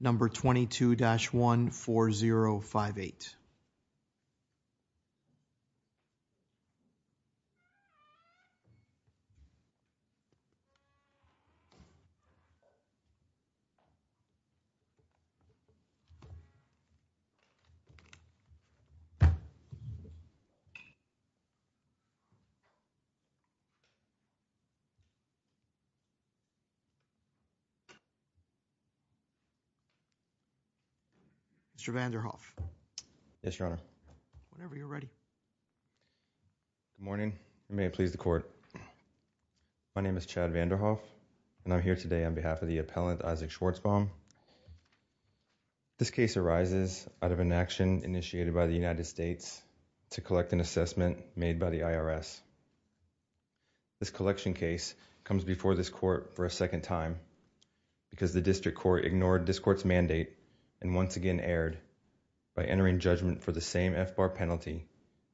number 22-14058. Mr. Vanderhoff. Yes, Your Honor. Whenever you're ready. Good morning. May it please the court. My name is Chad Vanderhoff, and I'm here today on behalf of the appellant, Isac Schwarzbaum. This case arises out of an action initiated by the United States to collect an assessment made by the IRS. This collection case comes before this court for a second time because the district court ignored this court's mandate and once again erred by entering judgment for the same FBAR penalty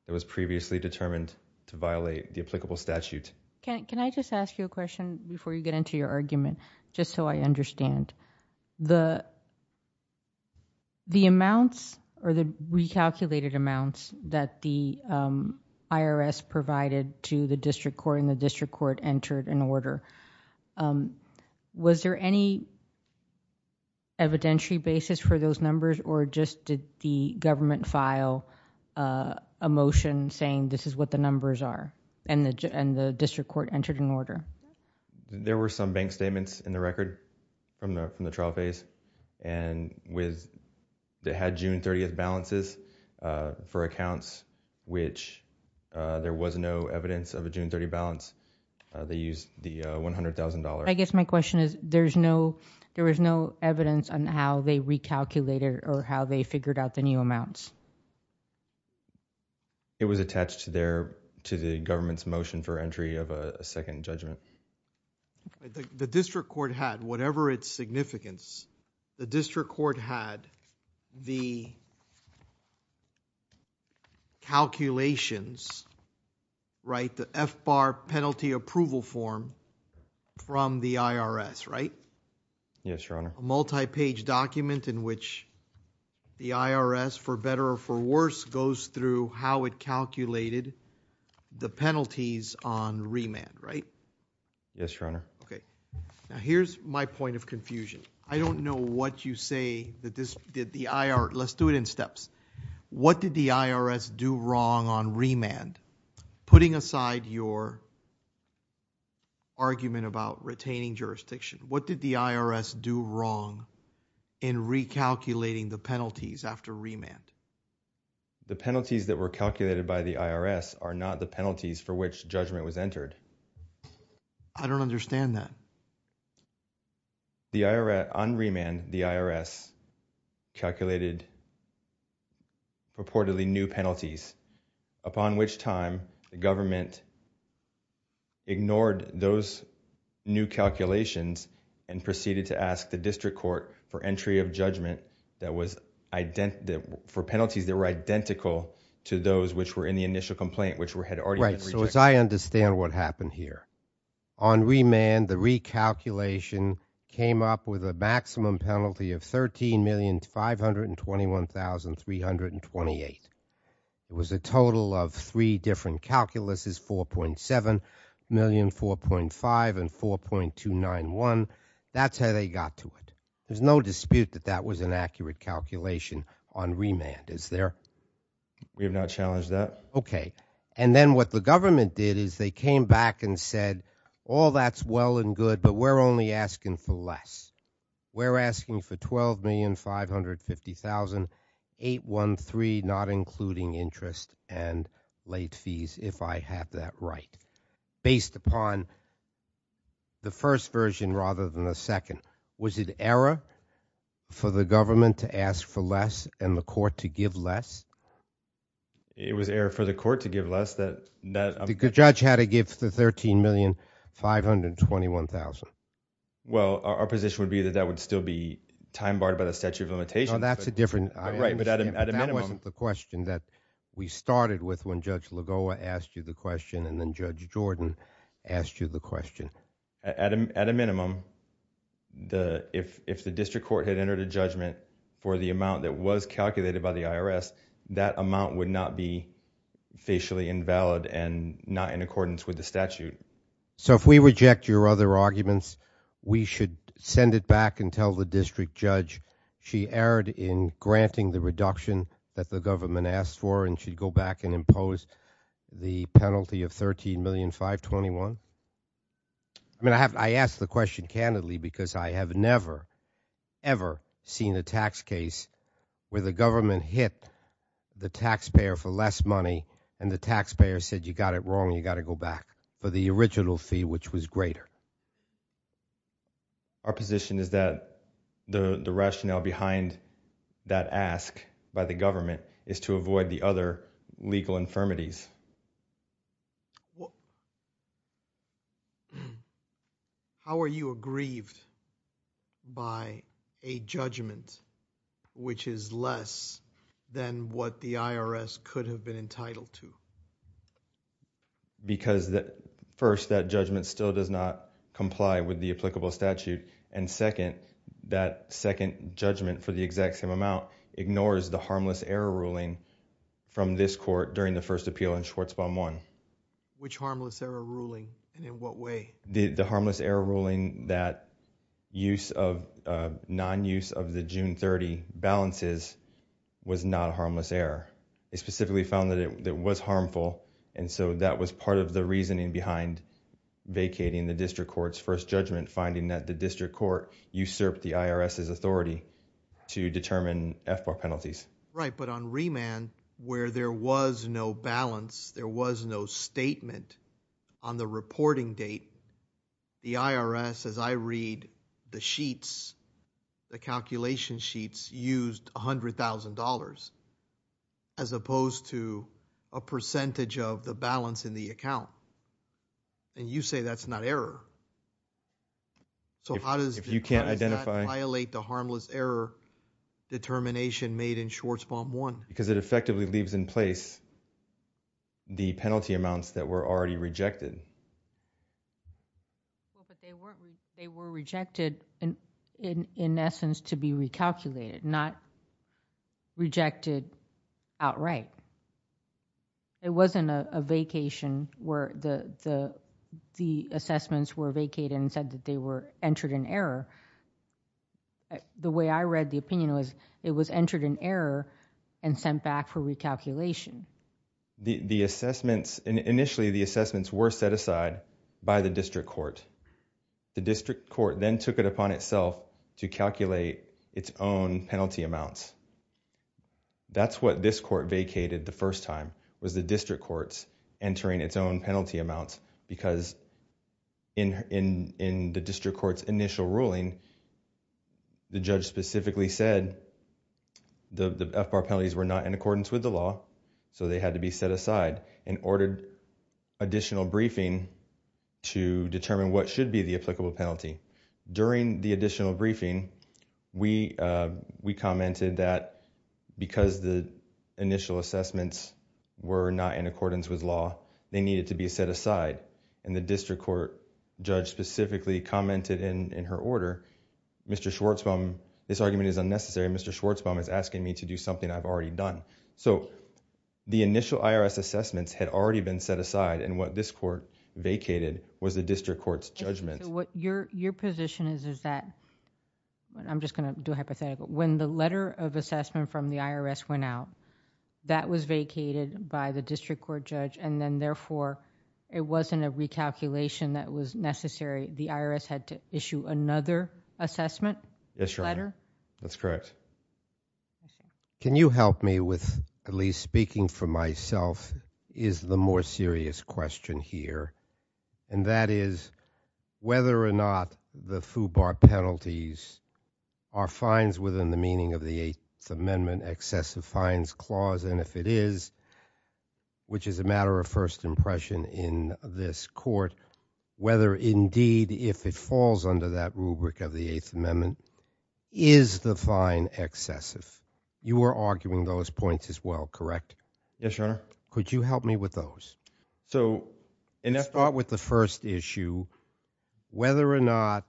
that was previously determined to violate the applicable statute. Can I just ask you a question before you get into your argument, just so I understand? The amounts or the recalculated amounts that the IRS provided to the district court and the district court entered an order, was there any evidentiary basis for those numbers or just did the government file a motion saying this is what the numbers are and the district court entered an order? There were some bank statements in the record from the trial phase, and it had June 30 balances for accounts which there was no evidence of a June 30 balance. They used the $100,000. I guess my question is there was no evidence on how they recalculated or how they figured out the new amounts? It was attached to the government's motion for entry of a second judgment. The district court had whatever its significance. The district court had the calculations, the FBAR penalty approval form from the IRS, right? Yes, Your Honor. A multi-page document in which the IRS, for better or for worse, goes through how it calculated the penalties on remand, right? Yes, Your Honor. Okay. Now, here's my point of confusion. I don't know what you say that this did the IRS. Let's do it in steps. What did the IRS do wrong on remand? Putting aside your argument about retaining jurisdiction, what did the IRS do wrong in recalculating the penalties after remand? The penalties that were calculated by the IRS are not the penalties for which judgment was entered. I don't understand that. On remand, the IRS calculated purportedly new penalties, upon which time the government ignored those new calculations and proceeded to ask the district court for entry of judgment for penalties that were identical to those which were in the initial complaint, which had already been rejected. Right, so as I understand what happened here, on remand, the recalculation came up with a maximum penalty of 13,521,328. It was a total of three different calculuses, 4.7 million, 4.5, and 4.291. That's how they got to it. There's no dispute that that was an accurate calculation on remand, is there? We have not challenged that. Okay. And then what the government did is they came back and said, all that's well and good, but we're only asking for less. We're asking for 12,550,813, not including interest and late fees, if I have that right, based upon the first version rather than the second. Was it error for the government to ask for less and the court to give less? It was error for the court to give less. The judge had to give the 13,521,000. Well, our position would be that that would still be time barred by the statute of limitations. No, that's a different issue. That wasn't the question that we started with when Judge Lagoa asked you the question and then Judge Jordan asked you the question. At a minimum, if the district court had entered a judgment for the amount that was calculated by the IRS, that amount would not be facially invalid and not in accordance with the statute. So if we reject your other arguments, we should send it back and tell the district judge she erred in granting the reduction that the government asked for and she'd go back and impose the penalty of 13,521,000? I mean, I ask the question candidly because I have never, ever seen a tax case where the government hit the taxpayer for less money and the taxpayer said you got it wrong and you got to go back for the original fee, which was greater. Our position is that the rationale behind that ask by the government is to avoid the other legal infirmities. How are you aggrieved by a judgment which is less than what the IRS could have been entitled to? Because first, that judgment still does not comply with the applicable statute and second, that second judgment for the exact same amount ignores the harmless error ruling from this court during the first appeal in Schwartzbaum 1. Which harmless error ruling and in what way? The harmless error ruling that non-use of the June 30 balances was not a harmless error. It specifically found that it was harmful and so that was part of the reasoning behind vacating the district court's first judgment, finding that the district court usurped the IRS's authority to determine FBAR penalties. Right, but on remand where there was no balance, there was no statement on the reporting date, the IRS, as I read the sheets, the calculation sheets, used $100,000 as opposed to a percentage of the balance in the account and you say that's not error. So how does that violate the harmless error determination made in Schwartzbaum 1? Because it effectively leaves in place the penalty amounts that were already rejected. They were rejected in essence to be recalculated, not rejected outright. It wasn't a vacation where the assessments were vacated and said that they were entered in error. The way I read the opinion was it was entered in error and sent back for recalculation. The assessments, initially the assessments were set aside by the district court. The district court then took it upon itself to calculate its own penalty amounts. That's what this court vacated the first time, was the district court's entering its own penalty amounts because in the district court's initial ruling, the judge specifically said the FBAR penalties were not in accordance with the law, so they had to be set aside and ordered additional briefing to determine what should be the applicable penalty. During the additional briefing, we commented that because the initial assessments were not in accordance with law, they needed to be set aside and the district court judge specifically commented in her order, Mr. Schwartzbaum, this argument is unnecessary, Mr. Schwartzbaum is asking me to do something I've already done. So the initial IRS assessments had already been set aside and what this court vacated was the district court's judgment. So what your position is is that, I'm just going to do a hypothetical, when the letter of assessment from the IRS went out, that was vacated by the district court judge and then therefore it wasn't a recalculation that was necessary, the IRS had to issue another assessment? Yes, Your Honor. Letter? That's correct. Can you help me with, at least speaking for myself, is the more serious question here and that is whether or not the FUBAR penalties are fines within the meaning of the Eighth Amendment Excessive Fines Clause and if it is, which is a matter of first impression in this court, whether indeed if it falls under that rubric of the Eighth Amendment, is the fine excessive? You are arguing those points as well, correct? Yes, Your Honor. Could you help me with those? Start with the first issue, whether or not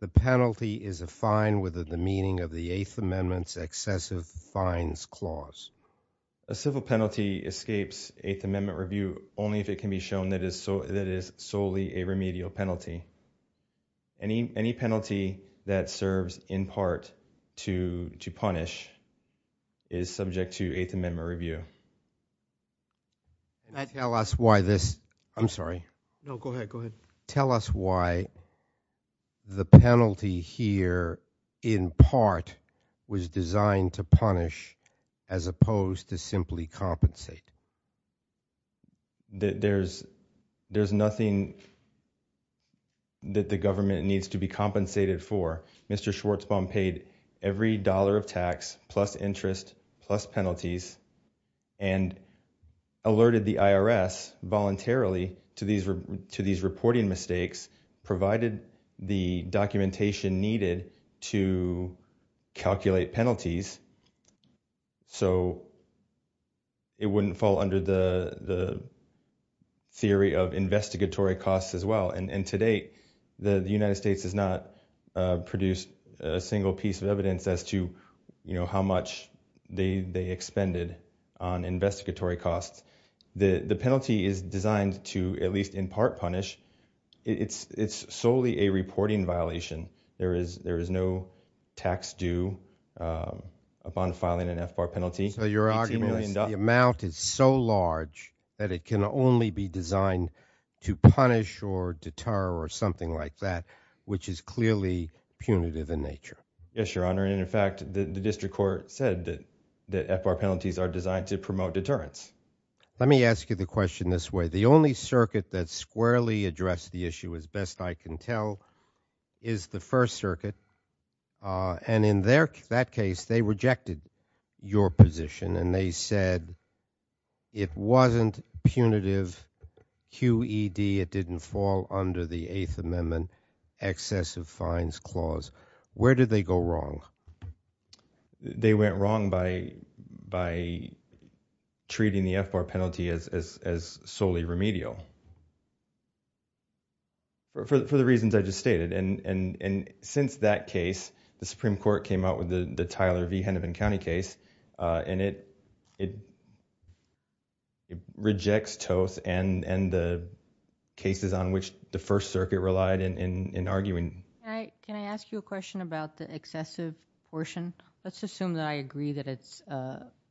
the penalty is a fine within the meaning of the Eighth Amendment Excessive Fines Clause. A civil penalty escapes Eighth Amendment review only if it can be shown that it is solely a remedial penalty. Any penalty that serves in part to punish is subject to Eighth Amendment review. Can you tell us why this, I'm sorry. No, go ahead, go ahead. Tell us why the penalty here in part was designed to punish as opposed to simply compensate. There's nothing that the government needs to be compensated for. Mr. Schwartzbaum paid every dollar of tax plus interest plus penalties and alerted the IRS voluntarily to these reporting mistakes, provided the documentation needed to calculate penalties, so it wouldn't fall under the theory of investigatory costs as well. And to date, the United States has not produced a single piece of evidence as to how much they expended on investigatory costs. The penalty is designed to at least in part punish. It's solely a reporting violation. There is no tax due upon filing an FBAR penalty. So your argument is the amount is so large that it can only be designed to punish or deter or something like that, which is clearly punitive in nature. Yes, Your Honor. And in fact, the district court said that FBAR penalties are designed to promote deterrence. Let me ask you the question this way. The only circuit that squarely addressed the issue, as best I can tell, is the First Circuit. And in that case, they rejected your position and they said it wasn't punitive QED. It didn't fall under the Eighth Amendment excessive fines clause. Where did they go wrong? They went wrong by treating the FBAR penalty as solely remedial for the reasons I just stated. And since that case, the Supreme Court came out with the Tyler v. Hennepin County case, and it rejects toast and the cases on which the First Circuit relied in arguing. Can I ask you a question about the excessive portion? Let's assume that I agree that it's,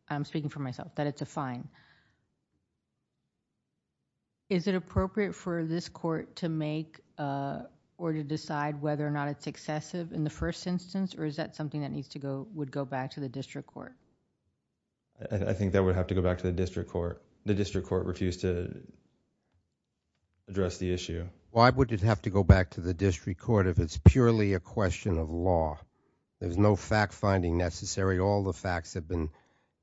I'm speaking for myself, that it's a fine. Is it appropriate for this court to make or to decide whether or not it's excessive in the first instance, or is that something that would go back to the district court? I think that would have to go back to the district court. The district court refused to address the issue. Why would it have to go back to the district court if it's purely a question of law? There's no fact-finding necessary. All the facts have been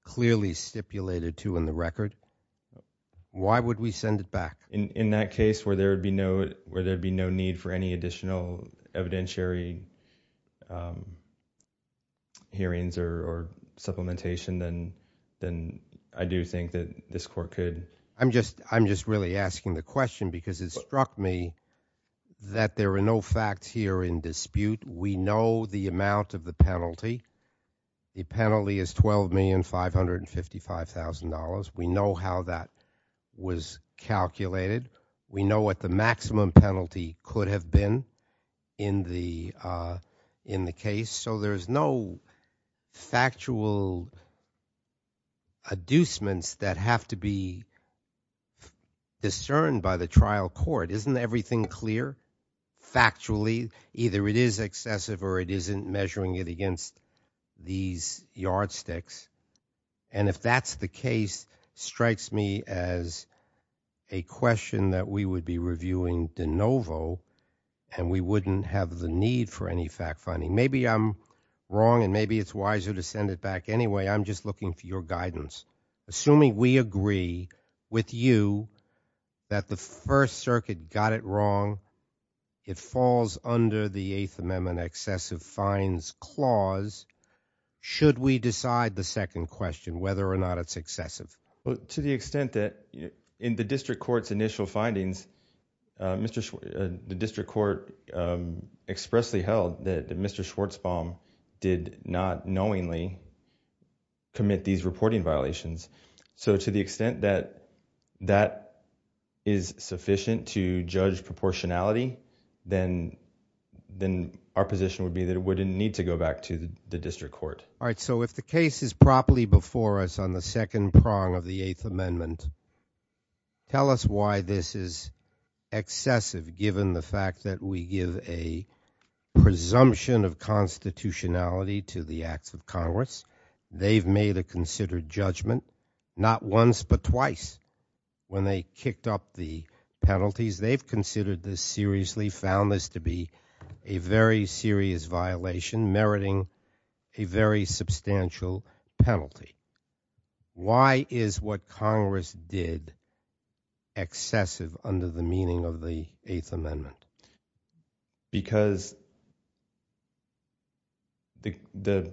clearly stipulated to in the record. Why would we send it back? In that case where there would be no need for any additional evidentiary hearings or supplementation, then I do think that this court could. I'm just really asking the question because it struck me that there are no facts here in dispute. We know the amount of the penalty. The penalty is $12,555,000. We know how that was calculated. We know what the maximum penalty could have been in the case. So there's no factual adducements that have to be discerned by the trial court. Isn't everything clear? Factually, either it is excessive or it isn't measuring it against these yardsticks. And if that's the case, it strikes me as a question that we would be reviewing de novo, and we wouldn't have the need for any fact-finding. Maybe I'm wrong, and maybe it's wiser to send it back. Assuming we agree with you that the First Circuit got it wrong, it falls under the Eighth Amendment excessive fines clause, should we decide the second question whether or not it's excessive? To the extent that in the district court's initial findings, the district court expressly held that Mr. Schwartzbaum did not knowingly commit these reporting violations. So to the extent that that is sufficient to judge proportionality, then our position would be that it wouldn't need to go back to the district court. All right, so if the case is properly before us on the second prong of the Eighth Amendment, tell us why this is excessive, given the fact that we give a presumption of constitutionality to the acts of Congress. They've made a considered judgment not once but twice when they kicked up the penalties. They've considered this seriously, found this to be a very serious violation, meriting a very substantial penalty. Why is what Congress did excessive under the meaning of the Eighth Amendment? Because the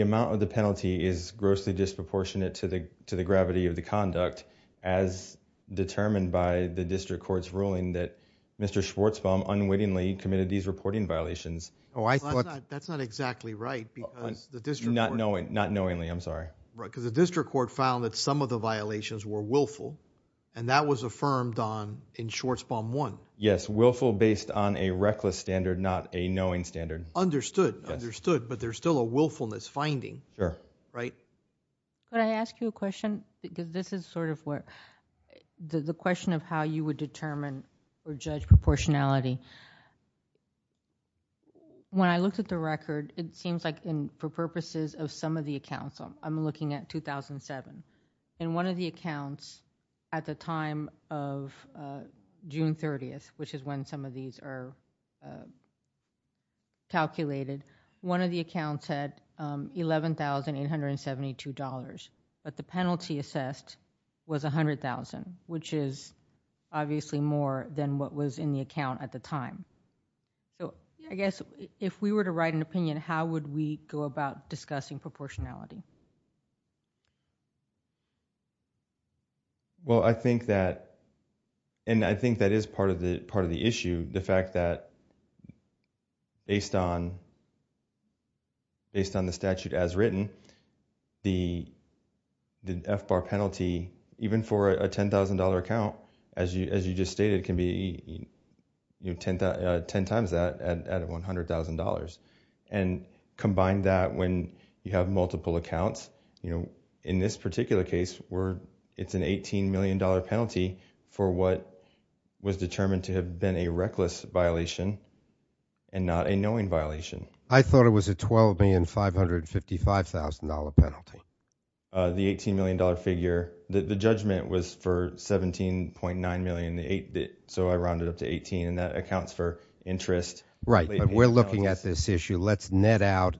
amount of the penalty is grossly disproportionate to the gravity of the conduct, as determined by the district court's ruling that Mr. Schwartzbaum unwittingly committed these reporting violations. That's not exactly right because the district court... Not knowingly, I'm sorry. Because the district court found that some of the violations were willful, and that was affirmed in Schwartzbaum 1. Yes, willful based on a reckless standard, not a knowing standard. Understood, understood, but there's still a willfulness finding. Sure. Right? Can I ask you a question? Because this is the question of how you would determine or judge proportionality. When I looked at the record, it seems like for purposes of some of the accounts, I'm looking at 2007, and one of the accounts at the time of June 30th, which is when some of these are calculated, one of the accounts said $11,872, but the penalty assessed was $100,000, which is obviously more than what was in the account at the time. So I guess if we were to write an opinion, how would we go about discussing proportionality? Well, I think that is part of the issue, the fact that based on the statute as written, the FBAR penalty, even for a $10,000 account, as you just stated, can be 10 times that out of $100,000, and combine that when you have multiple accounts. In this particular case, it's an $18 million penalty for what was determined to have been a reckless violation and not a knowing violation. I thought it was a $12,555,000 penalty. The $18 million figure. The judgment was for $17.9 million, so I rounded up to $18,000, and that accounts for interest. Right, but we're looking at this issue. Let's net out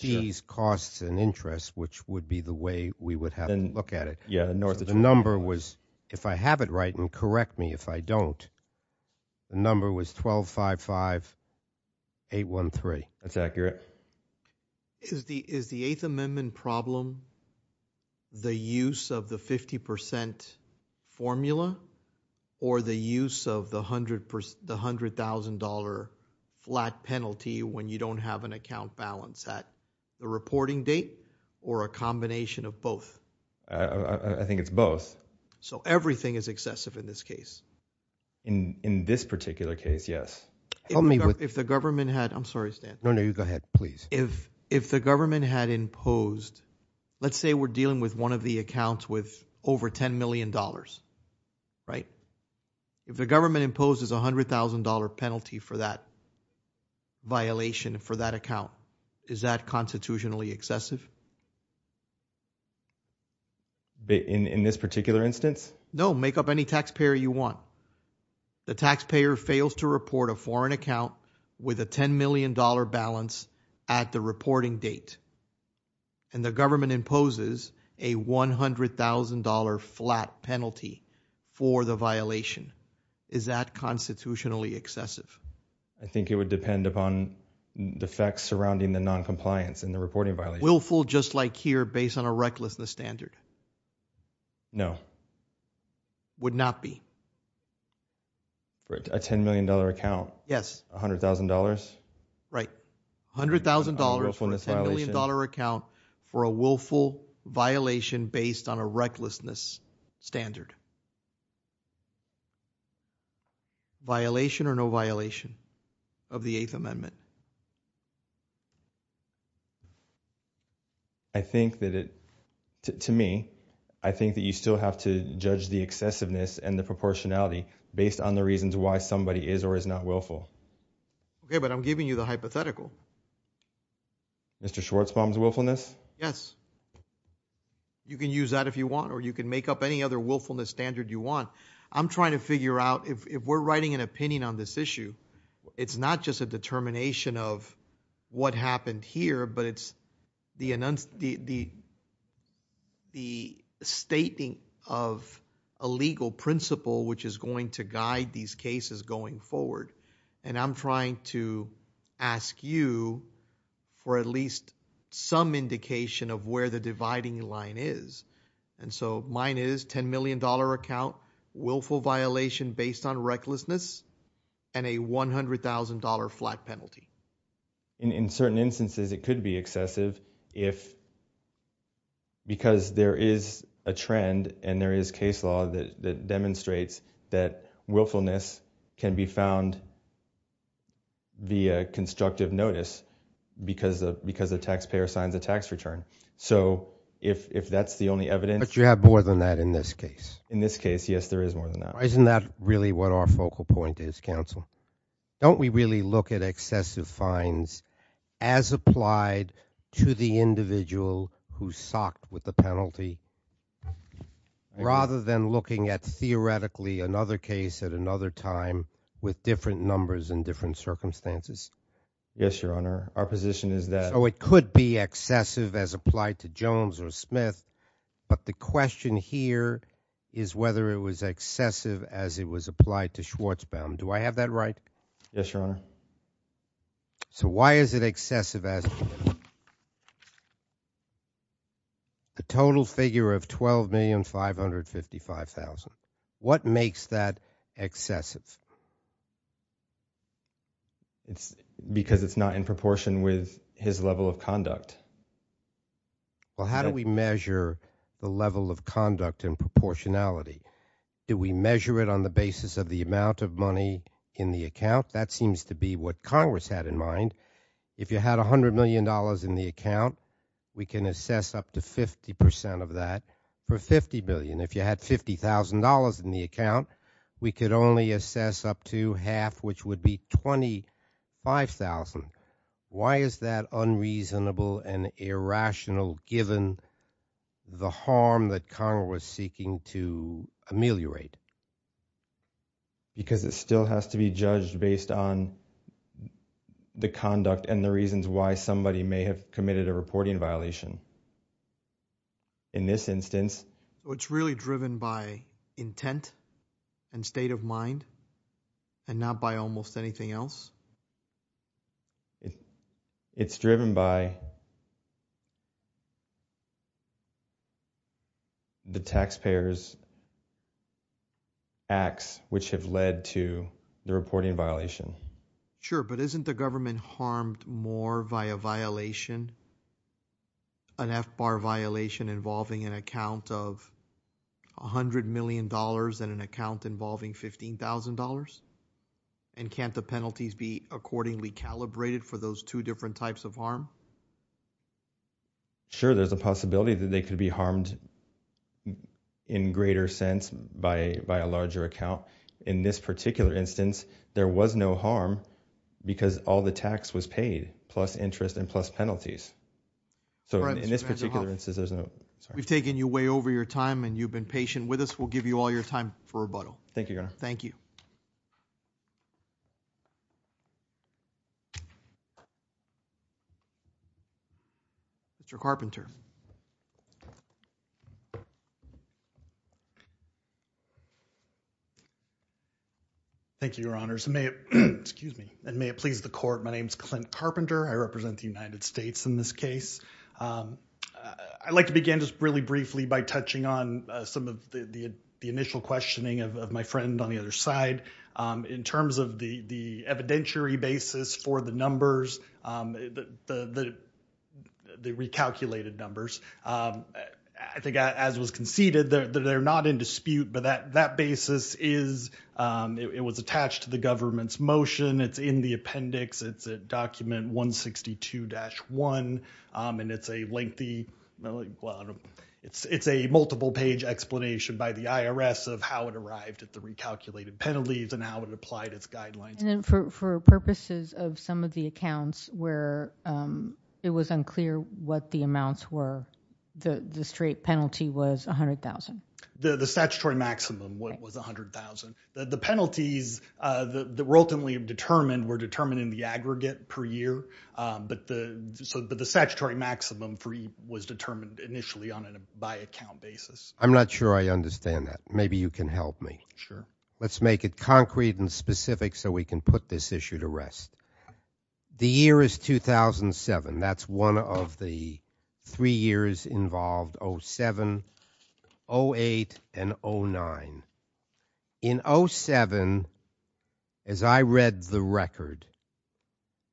these costs and interest, which would be the way we would have to look at it. The number was, if I have it right, and correct me if I don't, the number was $12,558,13. That's accurate. Is the Eighth Amendment problem the use of the 50% formula or the use of the $100,000 flat penalty when you don't have an account balance at the reporting date or a combination of both? I think it's both. So everything is excessive in this case? In this particular case, yes. Help me with... If the government had... I'm sorry, Stan. No, no, you go ahead, please. If the government had imposed... Let's say we're dealing with one of the accounts with over $10 million, right? If the government imposes a $100,000 penalty for that violation for that account, is that constitutionally excessive? In this particular instance? No, make up any taxpayer you want. The taxpayer fails to report a foreign account with a $10 million balance at the reporting date and the government imposes a $100,000 flat penalty for the violation. Is that constitutionally excessive? I think it would depend upon the facts surrounding the noncompliance in the reporting violation. Willful, just like here, based on a recklessness standard? No. Would not be? For a $10 million account? Yes. $100,000? Right. $100,000 for a $10 million account for a willful violation based on a recklessness standard. Violation or no violation of the Eighth Amendment? I think that it... To me, I think that you still have to judge the excessiveness and the proportionality based on the reasons why somebody is or is not willful. Okay, but I'm giving you the hypothetical. Mr. Schwartzbaum's willfulness? Yes. You can use that if you want, or you can make up any other willfulness standard you want. I'm trying to figure out, if we're writing an opinion on this issue, it's not just a determination of what happened here, but it's the stating of a legal principle which is going to guide these cases going forward. And I'm trying to ask you for at least some indication of where the dividing line is. And so, mine is $10 million account, willful violation based on recklessness, and a $100,000 flat penalty. In certain instances, it could be excessive because there is a trend and there is case law that demonstrates that willfulness can be found via constructive notice because the taxpayer signs a tax return. So, if that's the only evidence... But you have more than that in this case. In this case, yes, there is more than that. Isn't that really what our focal point is, counsel? Don't we really look at excessive fines as applied to the individual who socked with the penalty, rather than looking at, theoretically, another case at another time with different numbers and different circumstances? Yes, Your Honor. Our position is that... So, it could be excessive as applied to Jones or Smith, but the question here is whether it was excessive as it was applied to Schwarzbaum. Do I have that right? Yes, Your Honor. So, why is it excessive as... A total figure of $12,555,000. What makes that excessive? It's because it's not in proportion with his level of conduct. Well, how do we measure the level of conduct and proportionality? Do we measure it on the basis of the amount of money in the account? That seems to be what Congress had in mind. If you had $100 million in the account, we can assess up to 50% of that for $50 billion. If you had $50,000 in the account, we could only assess up to half, which would be $25,000. Why is that unreasonable and irrational given the harm that Congress is seeking to ameliorate? Because it still has to be judged based on the conduct and the reasons why somebody may have committed a reporting violation. In this instance... So, it's really driven by intent and state of mind and not by almost anything else? It's driven by... the taxpayers' acts which have led to the reporting violation. Sure, but isn't the government harmed more by a violation, an FBAR violation involving an account of $100 million and an account involving $15,000? And can't the penalties be accordingly calibrated for those two different types of harm? Sure, there's a possibility that they could be harmed in greater sense by a larger account. In this particular instance, there was no harm because all the tax was paid plus interest and plus penalties. So, in this particular instance, there's no... We've taken you way over your time and you've been patient with us. We'll give you all your time for rebuttal. Thank you, Your Honor. Thank you. Mr. Carpenter. Thank you, Your Honors. And may it please the court, my name is Clint Carpenter. I represent the United States in this case. I'd like to begin just really briefly by touching on some of the initial questioning of my friend on the other side. In terms of the evidentiary basis for the numbers, the recalculated numbers, I think as was conceded, they're not in dispute. But that basis is, it was attached to the government's motion. It's in the appendix. It's a document 162-1 and it's a lengthy... It's a multiple page explanation by the IRS of how it arrived at the recalculated penalties and how it applied its guidelines. And then for purposes of some of the accounts where it was unclear what the amounts were, the straight penalty was $100,000. The statutory maximum was $100,000. The penalties that were ultimately determined were determined in the aggregate per year. But the statutory maximum was determined initially on a by-account basis. I'm not sure I understand that. Maybe you can help me. Sure. Let's make it concrete and specific so we can put this issue to rest. The year is 2007. That's one of the three years involved, 07, 08, and 09. In 07, as I read the record,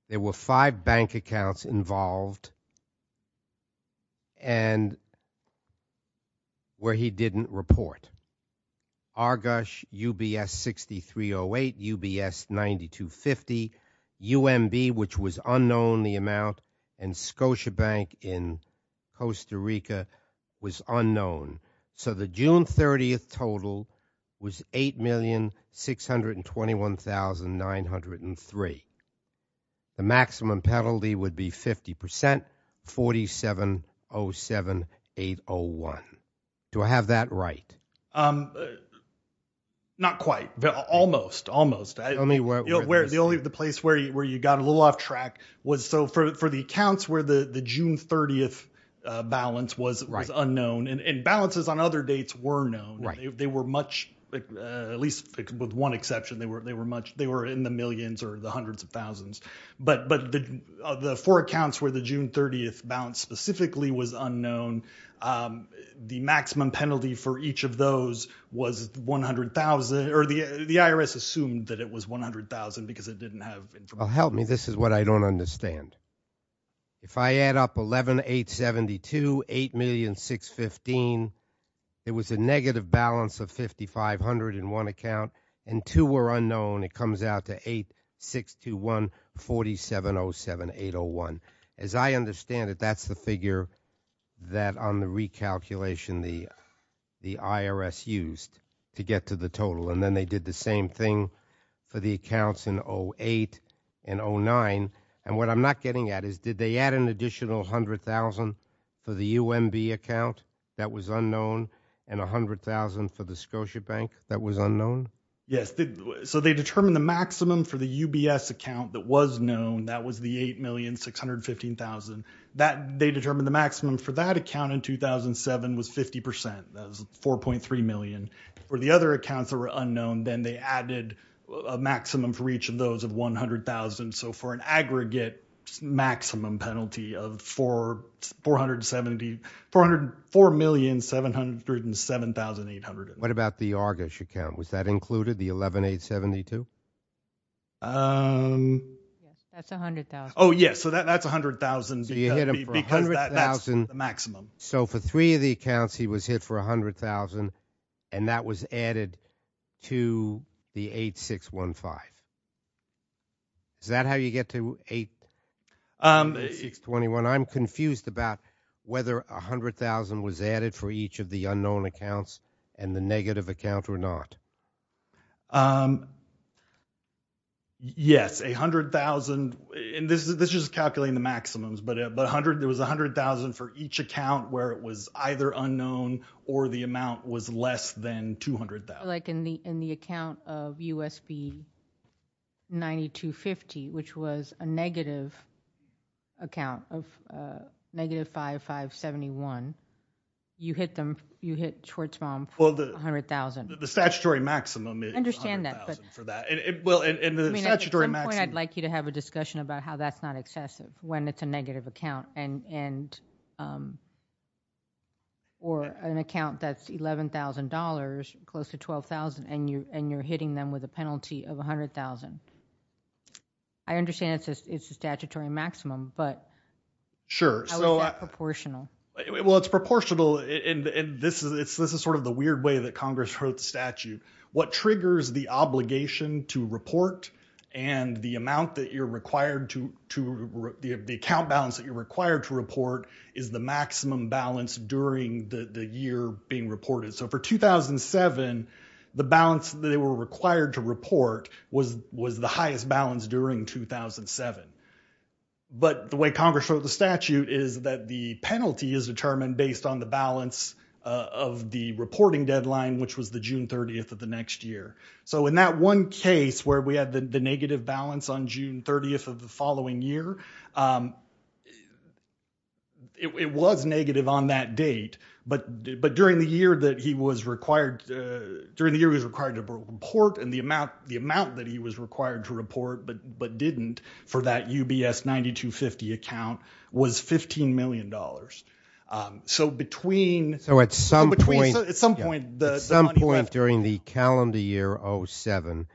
there were five bank accounts involved and where he didn't report. Argush, UBS 6308, UBS 9250, UMB, which was unknown, the amount, and Scotiabank in Costa Rica was unknown. So the June 30th total was $8,621,903. The maximum penalty would be 50%, 4707801. Do I have that right? Not quite. Almost, almost. The only place where you got a little off track was for the accounts where the June 30th balance was unknown. And balances on other dates were known. They were much, at least with one exception, they were in the millions or the hundreds of thousands. But the four accounts where the June 30th balance specifically was unknown, the maximum penalty for each of those was 100,000, or the IRS assumed that it was 100,000 because it didn't have information. Help me. This is what I don't understand. If I add up 11,872, 8,615, it was a negative balance of 5,501 account, and two were unknown. It comes out to 8,621, 4707801. As I understand it, that's the figure that on the recalculation the IRS used to get to the total, and then they did the same thing for the accounts in 2008 and 2009. And what I'm not getting at is did they add an additional 100,000 for the UMB account that was unknown and 100,000 for the Scotiabank that was unknown? Yes. So they determined the maximum for the UBS account that was known. That was the 8,615,000. They determined the maximum for that account in 2007 was 50%. That was 4.3 million. For the other accounts that were unknown, then they added a maximum for each of those of 100,000. So for an aggregate maximum penalty of 4,700, 4,707,800. What about the Argus account? Was that included, the 11,872? That's 100,000. Oh, yes. So that's 100,000 because that's the maximum. So for three of the accounts, he was hit for 100,000, and that was added to the 8,615. Is that how you get to 8,621? 8,621. I'm confused about whether 100,000 was added for each of the unknown accounts and the negative account or not. Yes, 100,000. This is just calculating the maximums. But there was 100,000 for each account where it was either unknown or the amount was less than 200,000. I feel like in the account of U.S.B. 9250, which was a negative account of negative 5,571, you hit Schwartzbaum for 100,000. The statutory maximum is 100,000 for that. At some point, I'd like you to have a discussion about how that's not excessive when it's a negative account or an account that's $11,000 close to 12,000, and you're hitting them with a penalty of 100,000. I understand it's a statutory maximum, but how is that proportional? Well, it's proportional, and this is sort of the weird way that Congress wrote the statute. What triggers the obligation to report and the account balance that you're required to report is the maximum balance during the year being reported. So for 2007, the balance that they were required to report was the highest balance during 2007. But the way Congress wrote the statute is that the penalty is determined based on the balance of the reporting deadline, which was the June 30th of the next year. So in that one case where we had the negative balance on June 30th of the following year, it was negative on that date, but during the year that he was required to report and the amount that he was required to report but didn't for that UBS 9250 account was $15 million. So at some point during the calendar year 07,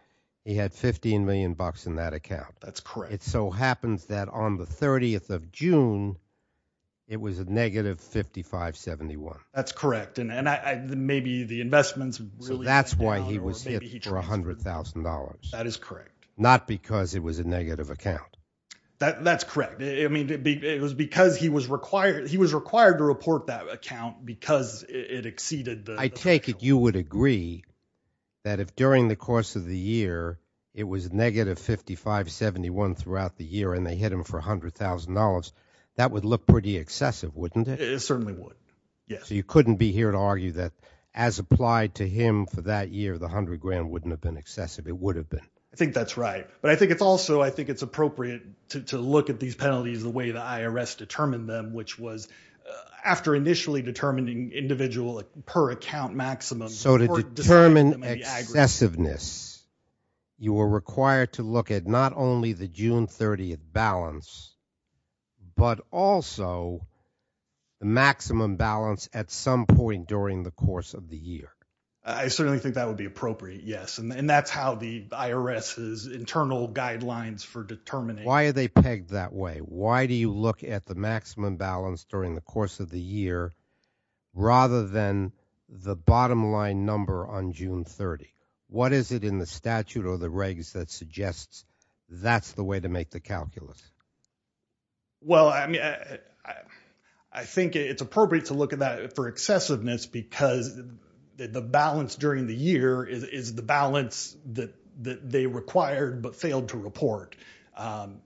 he had $15 million in that account. That's correct. It so happens that on the 30th of June, it was a negative 5571. That's correct, and maybe the investments really went down. So that's why he was hit for $100,000. That is correct. Not because it was a negative account. That's correct. It was because he was required to report that account because it exceeded the threshold. I take it you would agree that if during the course of the year it was negative 5571 throughout the year and they hit him for $100,000, that would look pretty excessive, wouldn't it? It certainly would, yes. So you couldn't be here to argue that as applied to him for that year, the $100,000 wouldn't have been excessive. It would have been. I think that's right. But I think it's also appropriate to look at these penalties the way the IRS determined them, which was after initially determining individual per account maximum. So to determine excessiveness, you were required to look at not only the June 30th balance but also the maximum balance at some point during the course of the year. I certainly think that would be appropriate, yes. And that's how the IRS's internal guidelines for determining. Why are they pegged that way? Why do you look at the maximum balance during the course of the year rather than the bottom line number on June 30th? What is it in the statute or the regs that suggests that's the way to make the calculus? Well, I think it's appropriate to look at that for excessiveness because the balance during the year is the balance that they required but failed to report.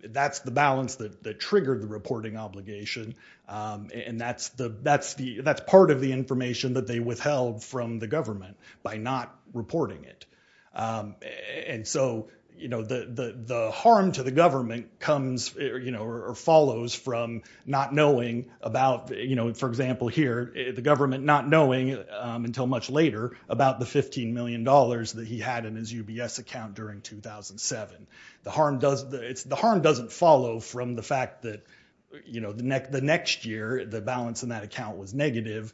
That's the balance that triggered the reporting obligation, and that's part of the information that they withheld from the government by not reporting it. And so the harm to the government comes or follows from not knowing about, for example here, the government not knowing until much later about the $15 million that he had in his UBS account during 2007. The harm doesn't follow from the fact that the next year the balance in that account was negative,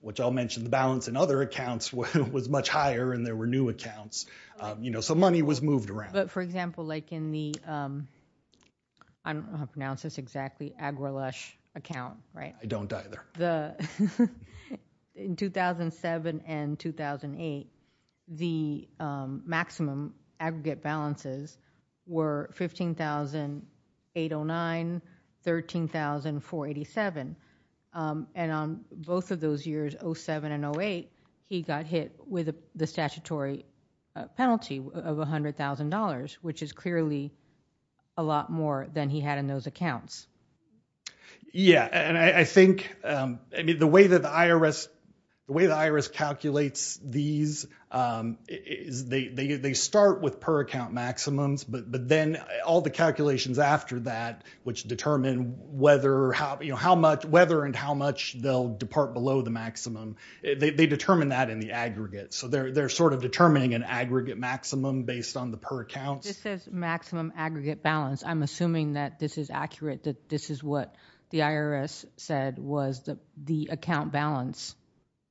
which I'll mention the balance in other accounts was much higher and there were new accounts. So money was moved around. But, for example, like in the, I don't know how to pronounce this exactly, AgriLush account, right? I don't either. In 2007 and 2008, the maximum aggregate balances were $15,809, $13,487, and on both of those years, 07 and 08, he got hit with the statutory penalty of $100,000, which is clearly a lot more than he had in those accounts. Yeah, and I think, I mean, the way that the IRS calculates these is they start with per account maximums, but then all the calculations after that, which determine whether and how much they'll depart below the maximum, they determine that in the aggregate. So they're sort of determining an aggregate maximum based on the per accounts. This says maximum aggregate balance. I'm assuming that this is accurate, that this is what the IRS said was the account balance,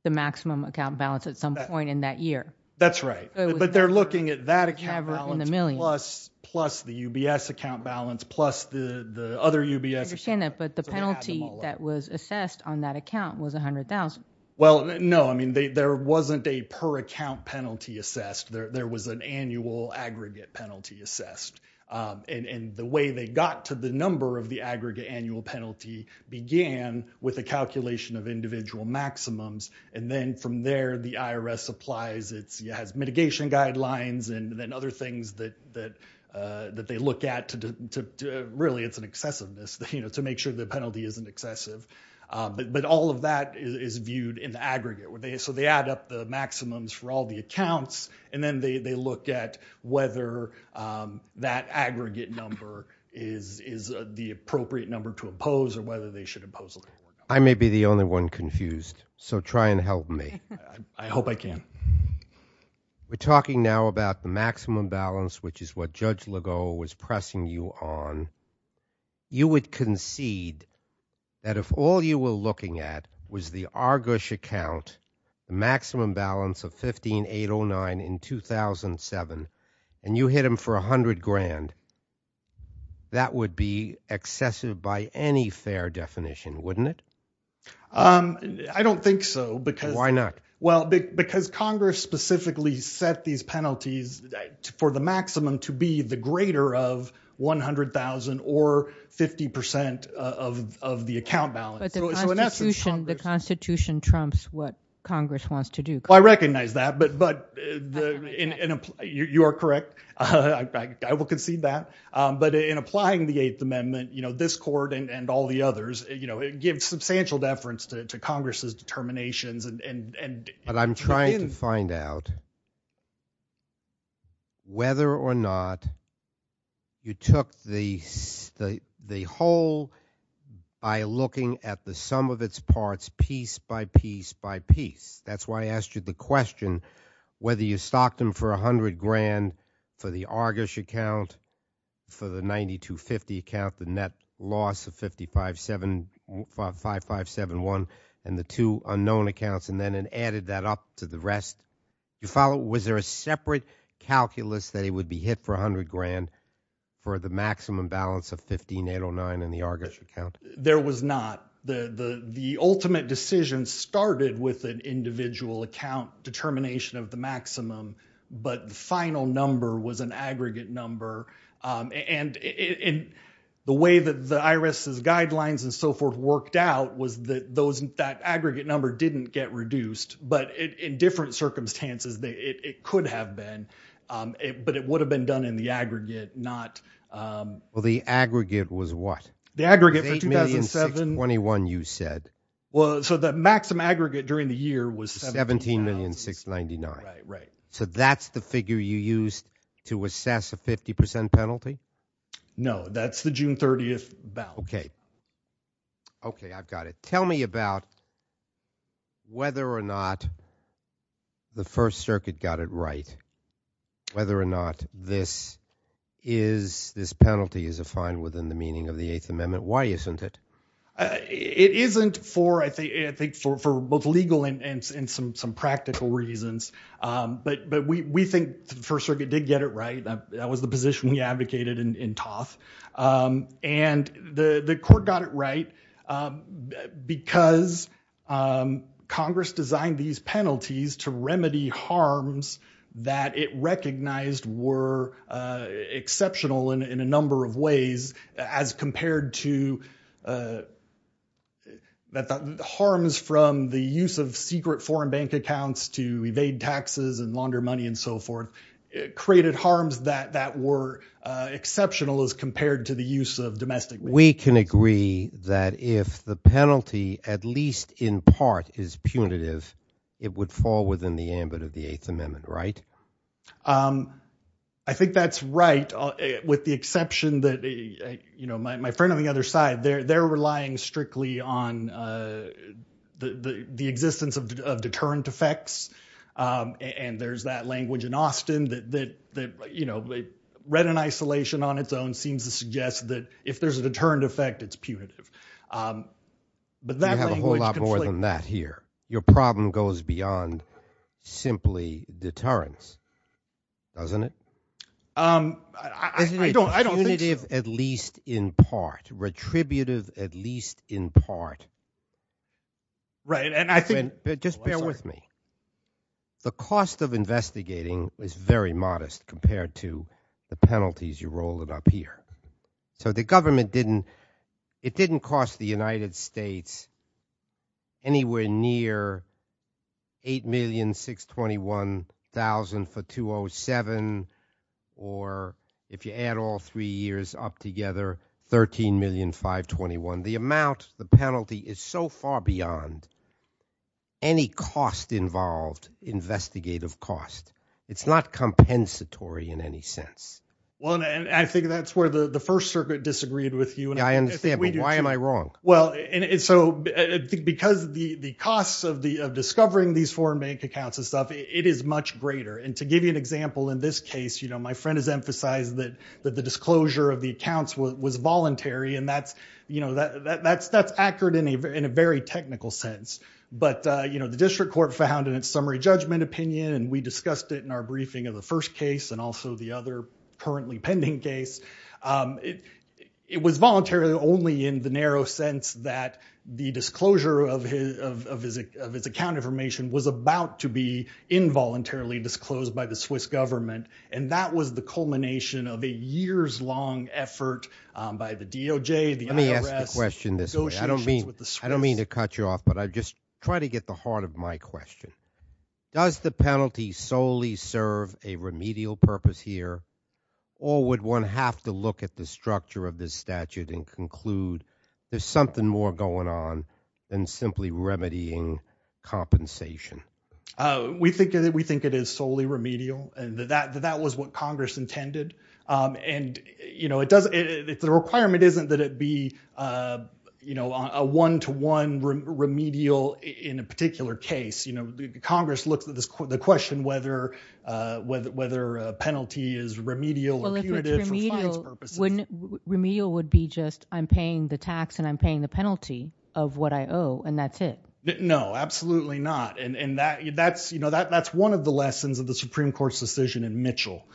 the maximum account balance at some point in that year. That's right. But they're looking at that account balance plus the UBS account balance, plus the other UBS accounts. But the penalty that was assessed on that account was $100,000. Well, no. I mean, there wasn't a per account penalty assessed. There was an annual aggregate penalty assessed. And the way they got to the number of the aggregate annual penalty began with a calculation of individual maximums, and then from there, the IRS applies its mitigation guidelines and then other things that they look at. Really, it's an excessiveness to make sure the penalty isn't excessive. But all of that is viewed in the aggregate. So they add up the maximums for all the accounts, and then they look at whether that aggregate number is the appropriate number to impose or whether they should impose a little more. I may be the only one confused, so try and help me. I hope I can. We're talking now about the maximum balance, which is what Judge Legault was pressing you on. You would concede that if all you were looking at was the Argus account, the maximum balance of $15,809 in 2007, and you hit him for $100,000, that would be excessive by any fair definition, wouldn't it? I don't think so. Why not? Well, because Congress specifically set these penalties for the maximum to be the greater of $100,000 or 50% of the account balance. But the Constitution trumps what Congress wants to do. Well, I recognize that, but you are correct. I will concede that. But in applying the Eighth Amendment, this court and all the others, it gives substantial deference to Congress's determinations. But I'm trying to find out whether or not you took the whole by looking at the sum of its parts piece by piece by piece. That's why I asked you the question whether you stocked them for $100,000 for the Argus account, for the $92.50 account, the net loss of $55.71, and the two unknown accounts, and then added that up to the rest. Was there a separate calculus that it would be hit for $100,000 for the maximum balance of $15,809 in the Argus account? There was not. The ultimate decision started with an individual account determination of the maximum, but the final number was an aggregate number. And the way that the IRS's guidelines and so forth worked out was that that aggregate number didn't get reduced. But in different circumstances, it could have been. But it would have been done in the aggregate, not— Well, the aggregate was what? The aggregate for 2007— It was $8,621,000, you said. Well, so the maximum aggregate during the year was— $17,699,000. So that's the figure you used to assess a 50% penalty? No, that's the June 30th balance. Okay. Okay, I've got it. Tell me about whether or not the First Circuit got it right, whether or not this penalty is a fine within the meaning of the Eighth Amendment. Why isn't it? It isn't, I think, for both legal and some practical reasons. But we think the First Circuit did get it right. That was the position we advocated in Toth. And the court got it right because Congress designed these penalties to remedy harms that it recognized were exceptional in a number of ways as compared to— that harms from the use of secret foreign bank accounts to evade taxes and launder money and so forth created harms that were exceptional as compared to the use of domestic— We can agree that if the penalty, at least in part, is punitive, it would fall within the ambit of the Eighth Amendment, right? I think that's right with the exception that, you know, my friend on the other side, they're relying strictly on the existence of deterrent effects. And there's that language in Austin that, you know, read in isolation on its own seems to suggest that if there's a deterrent effect, it's punitive. But that language— You have a whole lot more than that here. Your problem goes beyond simply deterrence, doesn't it? I don't think so. Isn't it punitive at least in part, retributive at least in part? Right, and I think— Just bear with me. The cost of investigating is very modest compared to the penalties you're rolling up here. So the government didn't— It didn't cost the United States anywhere near $8,621,000 for 207 or if you add all three years up together, $13,521,000. The amount, the penalty is so far beyond any cost involved, investigative cost. It's not compensatory in any sense. Well, and I think that's where the First Circuit disagreed with you. Yeah, I understand, but why am I wrong? Well, and so because the costs of discovering these foreign bank accounts and stuff, it is much greater. And to give you an example, in this case, you know, my friend has emphasized that the disclosure of the accounts was voluntary, and that's accurate in a very technical sense. But, you know, the district court found in its summary judgment opinion, and we discussed it in our briefing of the first case and also the other currently pending case, it was voluntary only in the narrow sense that the disclosure of his account information was about to be involuntarily disclosed by the Swiss government, and that was the culmination of a years-long effort by the DOJ, the IRS— Let me ask the question this way. I don't mean to cut you off, but I'll just try to get the heart of my question. Does the penalty solely serve a remedial purpose here, or would one have to look at the structure of this statute and conclude there's something more going on than simply remedying compensation? We think it is solely remedial, and that was what Congress intended. And, you know, the requirement isn't that it be, you know, a one-to-one remedial in a particular case. Congress looks at the question whether a penalty is remedial or punitive for fines purposes. Well, if it's remedial, remedial would be just I'm paying the tax and I'm paying the penalty of what I owe, and that's it. No, absolutely not. And that's one of the lessons of the Supreme Court's decision in Mitchell.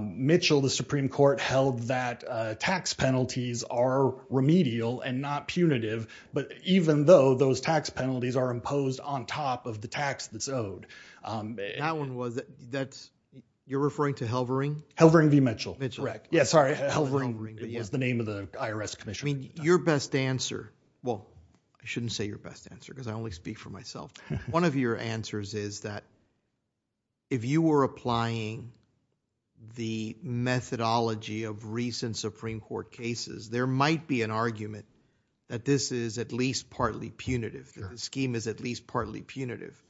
Mitchell, the Supreme Court, held that tax penalties are remedial and not punitive, but even though those tax penalties are imposed on top of the tax that's owed. That one was—you're referring to Halvering? Halvering v. Mitchell. Mitchell. Yeah, sorry. Halvering was the name of the IRS commissioner. I mean, your best answer—well, I shouldn't say your best answer because I only speak for myself. One of your answers is that if you were applying the methodology of recent Supreme Court cases, there might be an argument that this is at least partly punitive, that the scheme is at least partly punitive.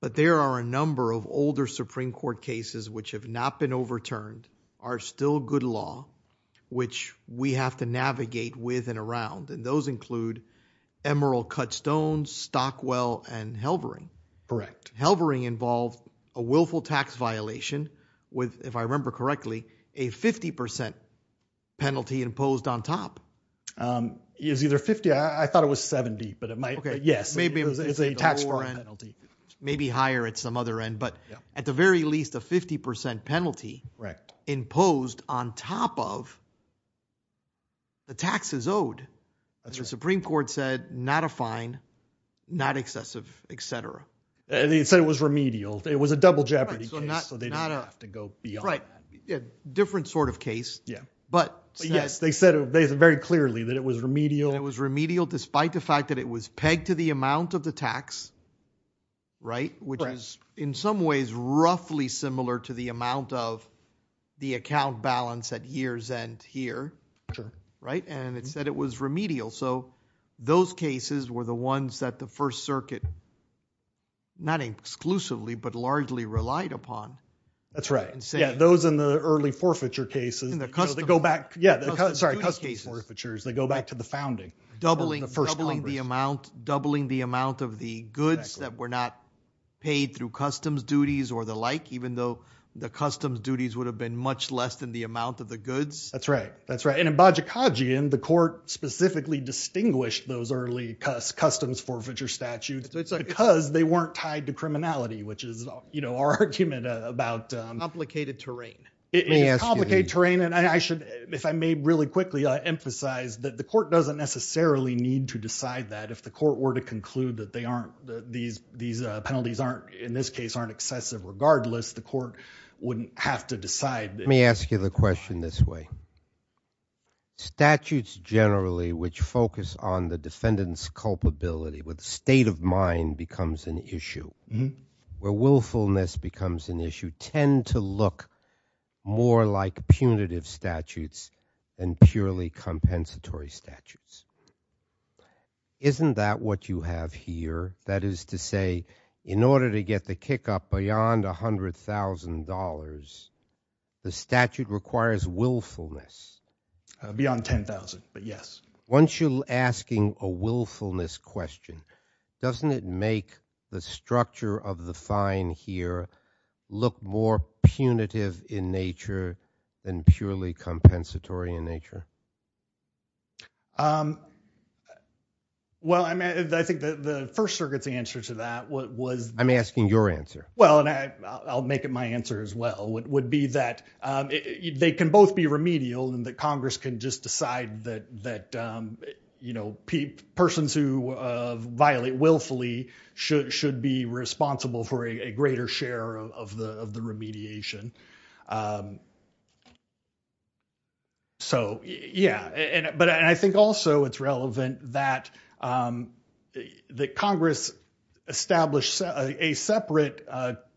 But there are a number of older Supreme Court cases which have not been overturned, are still good law, which we have to navigate with and around, and those include Emerald-Cut-Stone, Stockwell, and Halvering. Correct. Halvering involved a willful tax violation with, if I remember correctly, a 50% penalty imposed on top. It was either 50—I thought it was 70, but it might—yes, it's a tax fraud penalty. Maybe higher at some other end, but at the very least, a 50% penalty imposed on top of the taxes owed. That's right. The Supreme Court said not a fine, not excessive, etc. They said it was remedial. It was a double jeopardy case, so they didn't have to go beyond that. Different sort of case, but— Yes, they said very clearly that it was remedial. It was remedial despite the fact that it was pegged to the amount of the tax, right, which is in some ways roughly similar to the amount of the account balance at year's end here, right? And it said it was remedial. So those cases were the ones that the First Circuit not exclusively but largely relied upon. That's right. Those in the early forfeiture cases, they go back—sorry, customs forfeitures, they go back to the founding. Doubling the amount of the goods that were not paid through customs duties or the like, even though the customs duties would have been much less than the amount of the goods. That's right. And in Bajikadzian, the court specifically distinguished those early customs forfeiture statutes because they weren't tied to criminality, which is our argument about— Complicated terrain. Complicated terrain, and if I may really quickly emphasize that the court doesn't necessarily need to decide that. If the court were to conclude that these penalties in this case aren't excessive regardless, the court wouldn't have to decide— Let me ask you the question this way. Statutes generally which focus on the defendant's culpability, where the state of mind becomes an issue, where willfulness becomes an issue, tend to look more like punitive statutes than purely compensatory statutes. Isn't that what you have here? That is to say, in order to get the kick-up beyond $100,000, the statute requires willfulness. Beyond $10,000, but yes. Once you're asking a willfulness question, doesn't it make the structure of the fine here look more punitive in nature than purely compensatory in nature? Well, I think the First Circuit's answer to that was— I'm asking your answer. Well, and I'll make it my answer as well, would be that they can both be remedial and that Congress can just decide that persons who violate willfully should be responsible for a greater share of the remediation. So, yeah. But I think also it's relevant that Congress established a separate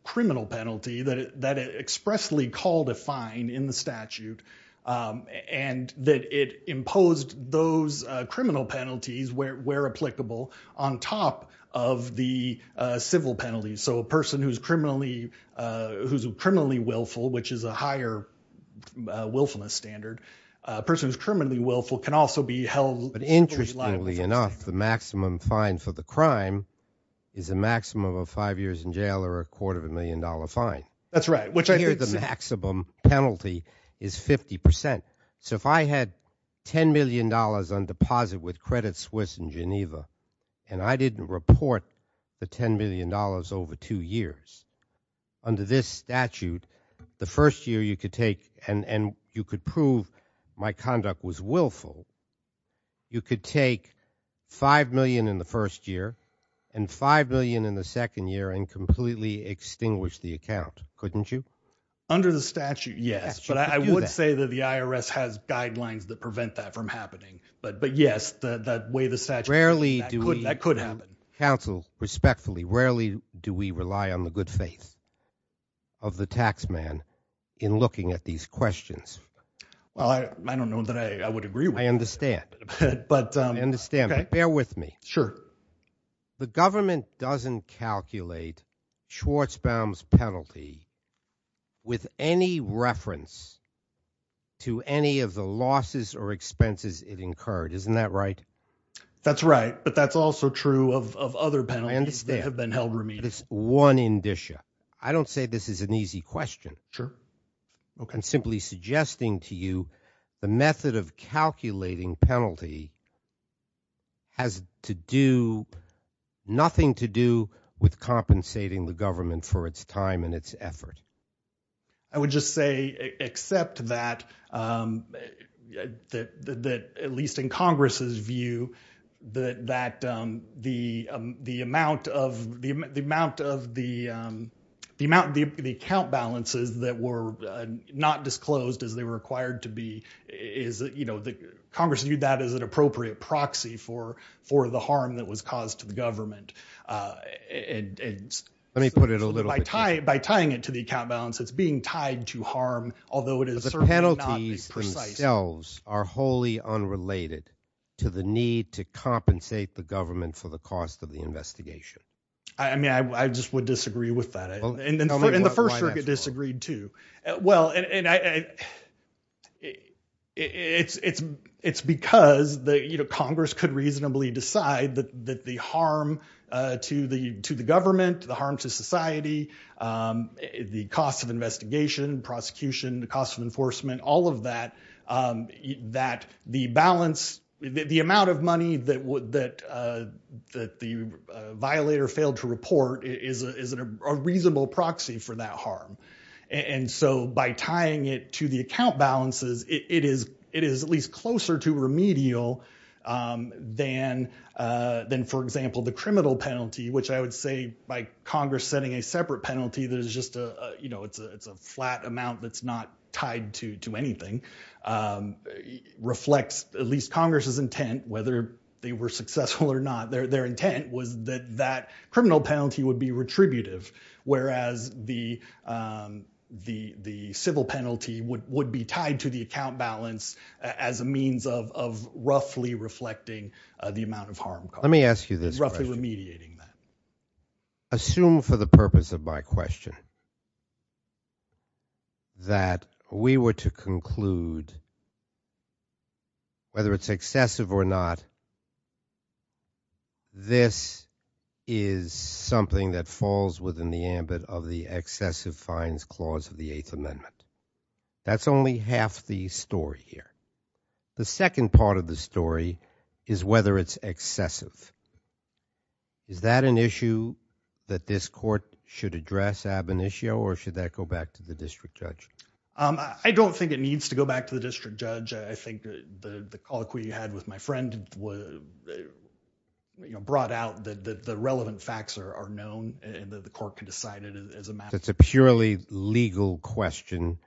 criminal penalty that expressly called a fine in the statute and that it imposed those criminal penalties where applicable on top of the civil penalties. So a person who's criminally willful, which is a higher willfulness standard, a person who's criminally willful can also be held— But interestingly enough, the maximum fine for the crime is a maximum of five years in jail or a quarter of a million dollar fine. That's right. Which I hear the maximum penalty is 50%. So if I had $10 million on deposit with Credit Suisse in Geneva and I didn't report the $10 million over two years, under this statute, the first year you could take and you could prove my conduct was willful, you could take $5 million in the first year and $5 million in the second year and completely extinguish the account, couldn't you? Under the statute, yes. But I would say that the IRS has guidelines that prevent that from happening. But yes, the way the statute— Rarely do we— That could happen. Counsel, respectfully, rarely do we rely on the good faith of the tax man in looking at these questions. Well, I don't know that I would agree with that. I understand. But— I understand. Bear with me. Sure. The government doesn't calculate Schwarzbaum's penalty with any reference to any of the losses or expenses it incurred. Isn't that right? That's right. But that's also true of other penalties that have been held remediable. I understand. But it's one indicia. I don't say this is an easy question. Sure. I'm simply suggesting to you the method of calculating penalty has to do—nothing to do with compensating the government for its time and its effort. I would just say, except that, at least in Congress's view, that the amount of the account balances that were not disclosed as they were required to be— Congress viewed that as an appropriate proxy for the harm that was caused to the government. Let me put it a little— By tying it to the account balance, it's being tied to harm, although it is certainly not precisely— But the penalties themselves are wholly unrelated to the need to compensate the government for the cost of the investigation. I mean, I just would disagree with that. And the First Circuit disagreed, too. Well, it's because Congress could reasonably decide that the harm to the government, the harm to society, the cost of investigation, prosecution, the cost of enforcement, all of that, that the balance— the amount of money that the violator failed to report is a reasonable proxy for that harm. And so by tying it to the account balances, it is at least closer to remedial than, for example, the criminal penalty, which I would say, by Congress setting a separate penalty that is just a flat amount that's not tied to anything, reflects at least Congress's intent, whether they were successful or not. Their intent was that that criminal penalty would be retributive, whereas the civil penalty would be tied to the account balance as a means of roughly reflecting the amount of harm caused. Let me ask you this question. Roughly remediating that. Assume for the purpose of my question that we were to conclude, whether it's excessive or not, this is something that falls within the ambit of the excessive fines clause of the Eighth Amendment. That's only half the story here. The second part of the story is whether it's excessive. Is that an issue that this court should address, Ab Initio, or should that go back to the district judge? I don't think it needs to go back to the district judge. I think the colloquy you had with my friend brought out that the relevant facts are known and that the court can decide it as a matter of— It's a purely legal question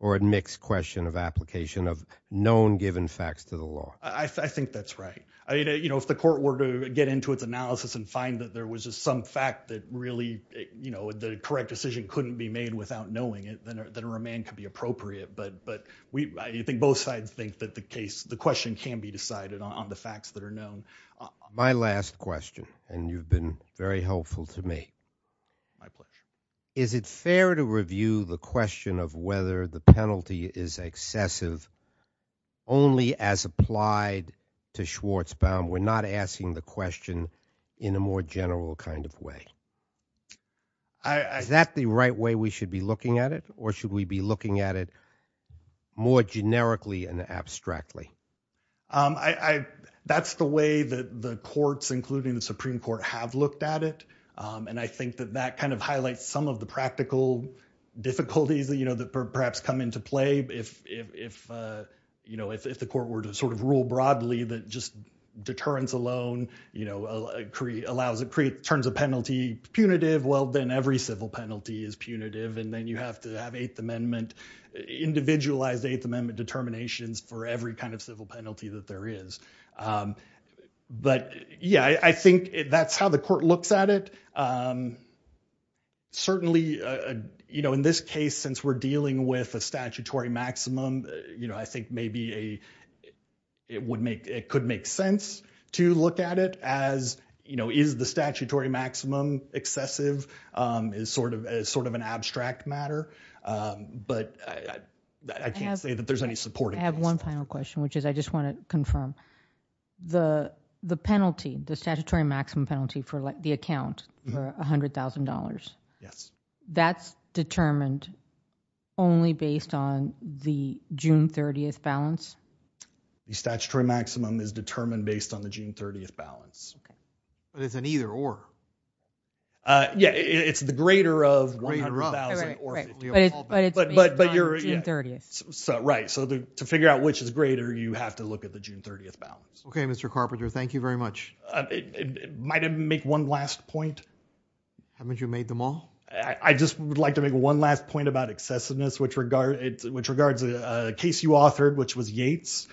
or a mixed question of application of known given facts to the law. I think that's right. If the court were to get into its analysis and find that there was some fact that really the correct decision couldn't be made without knowing it, then a remand could be appropriate. But I think both sides think that the question can be decided on the facts that are known. My last question, and you've been very helpful to me. My pleasure. Is it fair to review the question of whether the penalty is excessive only as applied to Schwartzbaum? We're not asking the question in a more general kind of way. Is that the right way we should be looking at it, or should we be looking at it more generically and abstractly? That's the way that the courts, including the Supreme Court, have looked at it. I think that that kind of highlights some of the practical difficulties that perhaps come into play. If the court were to sort of rule broadly that just deterrence alone turns a penalty punitive, well, then every civil penalty is punitive. Then you have to have individualized Eighth Amendment determinations for every kind of civil penalty that there is. But, yeah, I think that's how the court looks at it. Certainly, in this case, since we're dealing with a statutory maximum, I think maybe it could make sense to look at it as, is the statutory maximum excessive as sort of an abstract matter? But I can't say that there's any supporting case. I have one final question, which is I just want to confirm. The penalty, the statutory maximum penalty for the account for $100,000, that's determined only based on the June 30th balance? The statutory maximum is determined based on the June 30th balance. But it's an either or. Yeah, it's the greater of 100,000 or. But it's based on June 30th. Right. So to figure out which is greater, you have to look at the June 30th balance. Okay, Mr. Carpenter, thank you very much. Might I make one last point? Haven't you made them all? I just would like to make one last point about excessiveness, which regards a case you authored, which was Yates.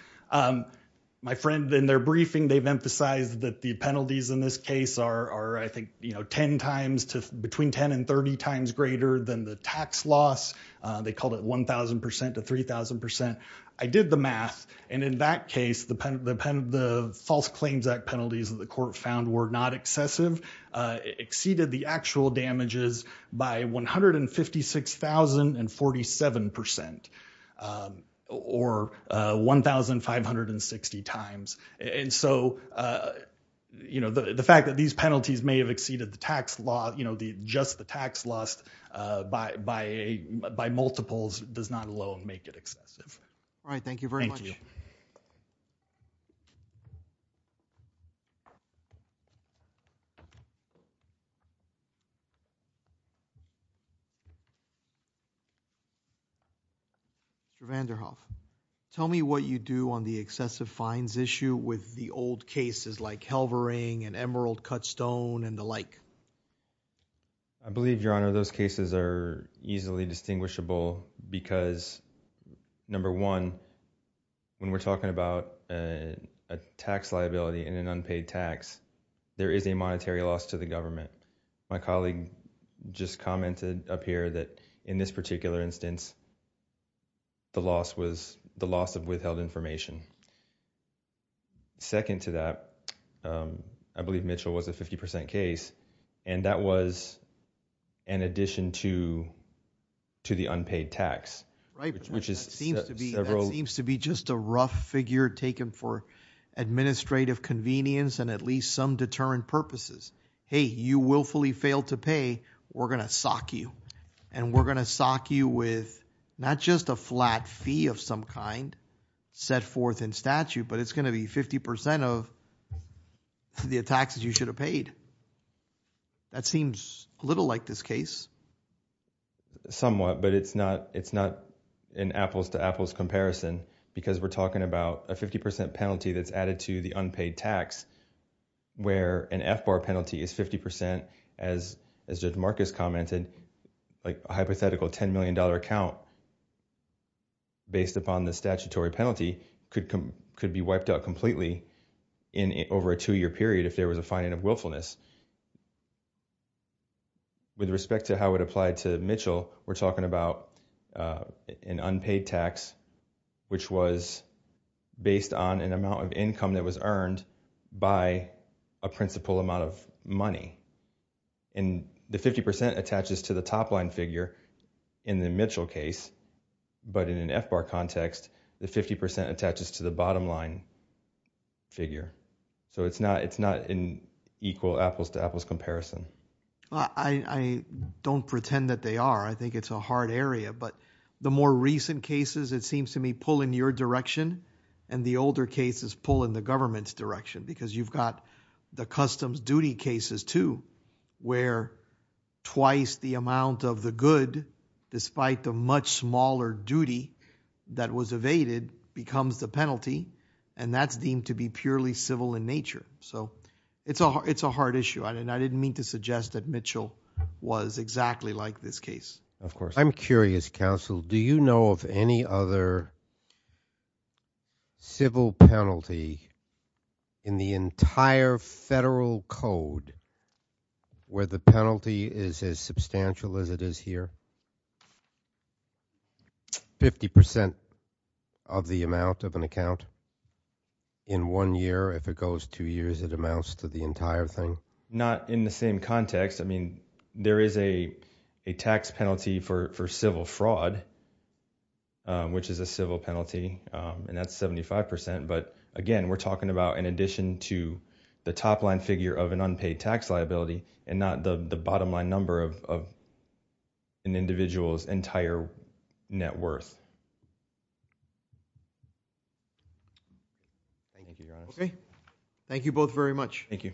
My friend, in their briefing, they've emphasized that the penalties in this case are, I think, 10 times to between 10 and 30 times greater than the tax loss. They called it 1,000 percent to 3,000 percent. I did the math. And in that case, the false claims act penalties that the court found were not excessive, exceeded the actual damages by 156,047 percent or 1,560 times. And so the fact that these penalties may have exceeded just the tax loss by multiples does not alone make it excessive. All right, thank you very much. Thank you. Mr. Vanderhoff, tell me what you do on the excessive fines issue with the old cases like Halvering and Emerald Cut Stone and the like. I believe, Your Honor, those cases are easily distinguishable because, number one, when we're talking about a tax liability in an unpaid tax, there is a monetary loss to the government. My colleague just commented up here that in this particular instance, the loss was the loss of withheld information. Second to that, I believe Mitchell was a 50 percent case, and that was an addition to the unpaid tax. Right, which seems to be just a rough figure taken for administrative convenience and at least some deterrent purposes. Hey, you willfully failed to pay. We're going to sock you. And we're going to sock you with not just a flat fee of some kind set forth in statute, but it's going to be 50 percent of the taxes you should have paid. That seems a little like this case. Somewhat, but it's not an apples-to-apples comparison because we're talking about a 50 percent penalty that's added to the unpaid tax where an F-bar penalty is 50 percent. As Judge Marcus commented, a hypothetical $10 million account based upon the statutory penalty could be wiped out completely over a two-year period if there was a finding of willfulness. With respect to how it applied to Mitchell, we're talking about an unpaid tax, which was based on an amount of income that was earned by a principal amount of money. And the 50 percent attaches to the top line figure in the Mitchell case, but in an F-bar context, the 50 percent attaches to the bottom line figure. So it's not an equal apples-to-apples comparison. I don't pretend that they are. I think it's a hard area. But the more recent cases, it seems to me, pull in your direction, and the older cases pull in the government's direction because you've got the customs duty cases too where twice the amount of the good, despite the much smaller duty that was evaded, becomes the penalty. And that's deemed to be purely civil in nature. So it's a hard issue. And I didn't mean to suggest that Mitchell was exactly like this case. Of course. I'm curious, counsel, do you know of any other civil penalty in the entire federal code where the penalty is as substantial as it is here? Fifty percent of the amount of an account in one year? If it goes two years, it amounts to the entire thing? Not in the same context. I mean, there is a tax penalty for civil fraud, which is a civil penalty, and that's 75 percent. But, again, we're talking about in addition to the top line figure of an unpaid tax liability and not the bottom line number of an individual's entire net worth. Okay. Thank you both very much. Thank you. Thank you.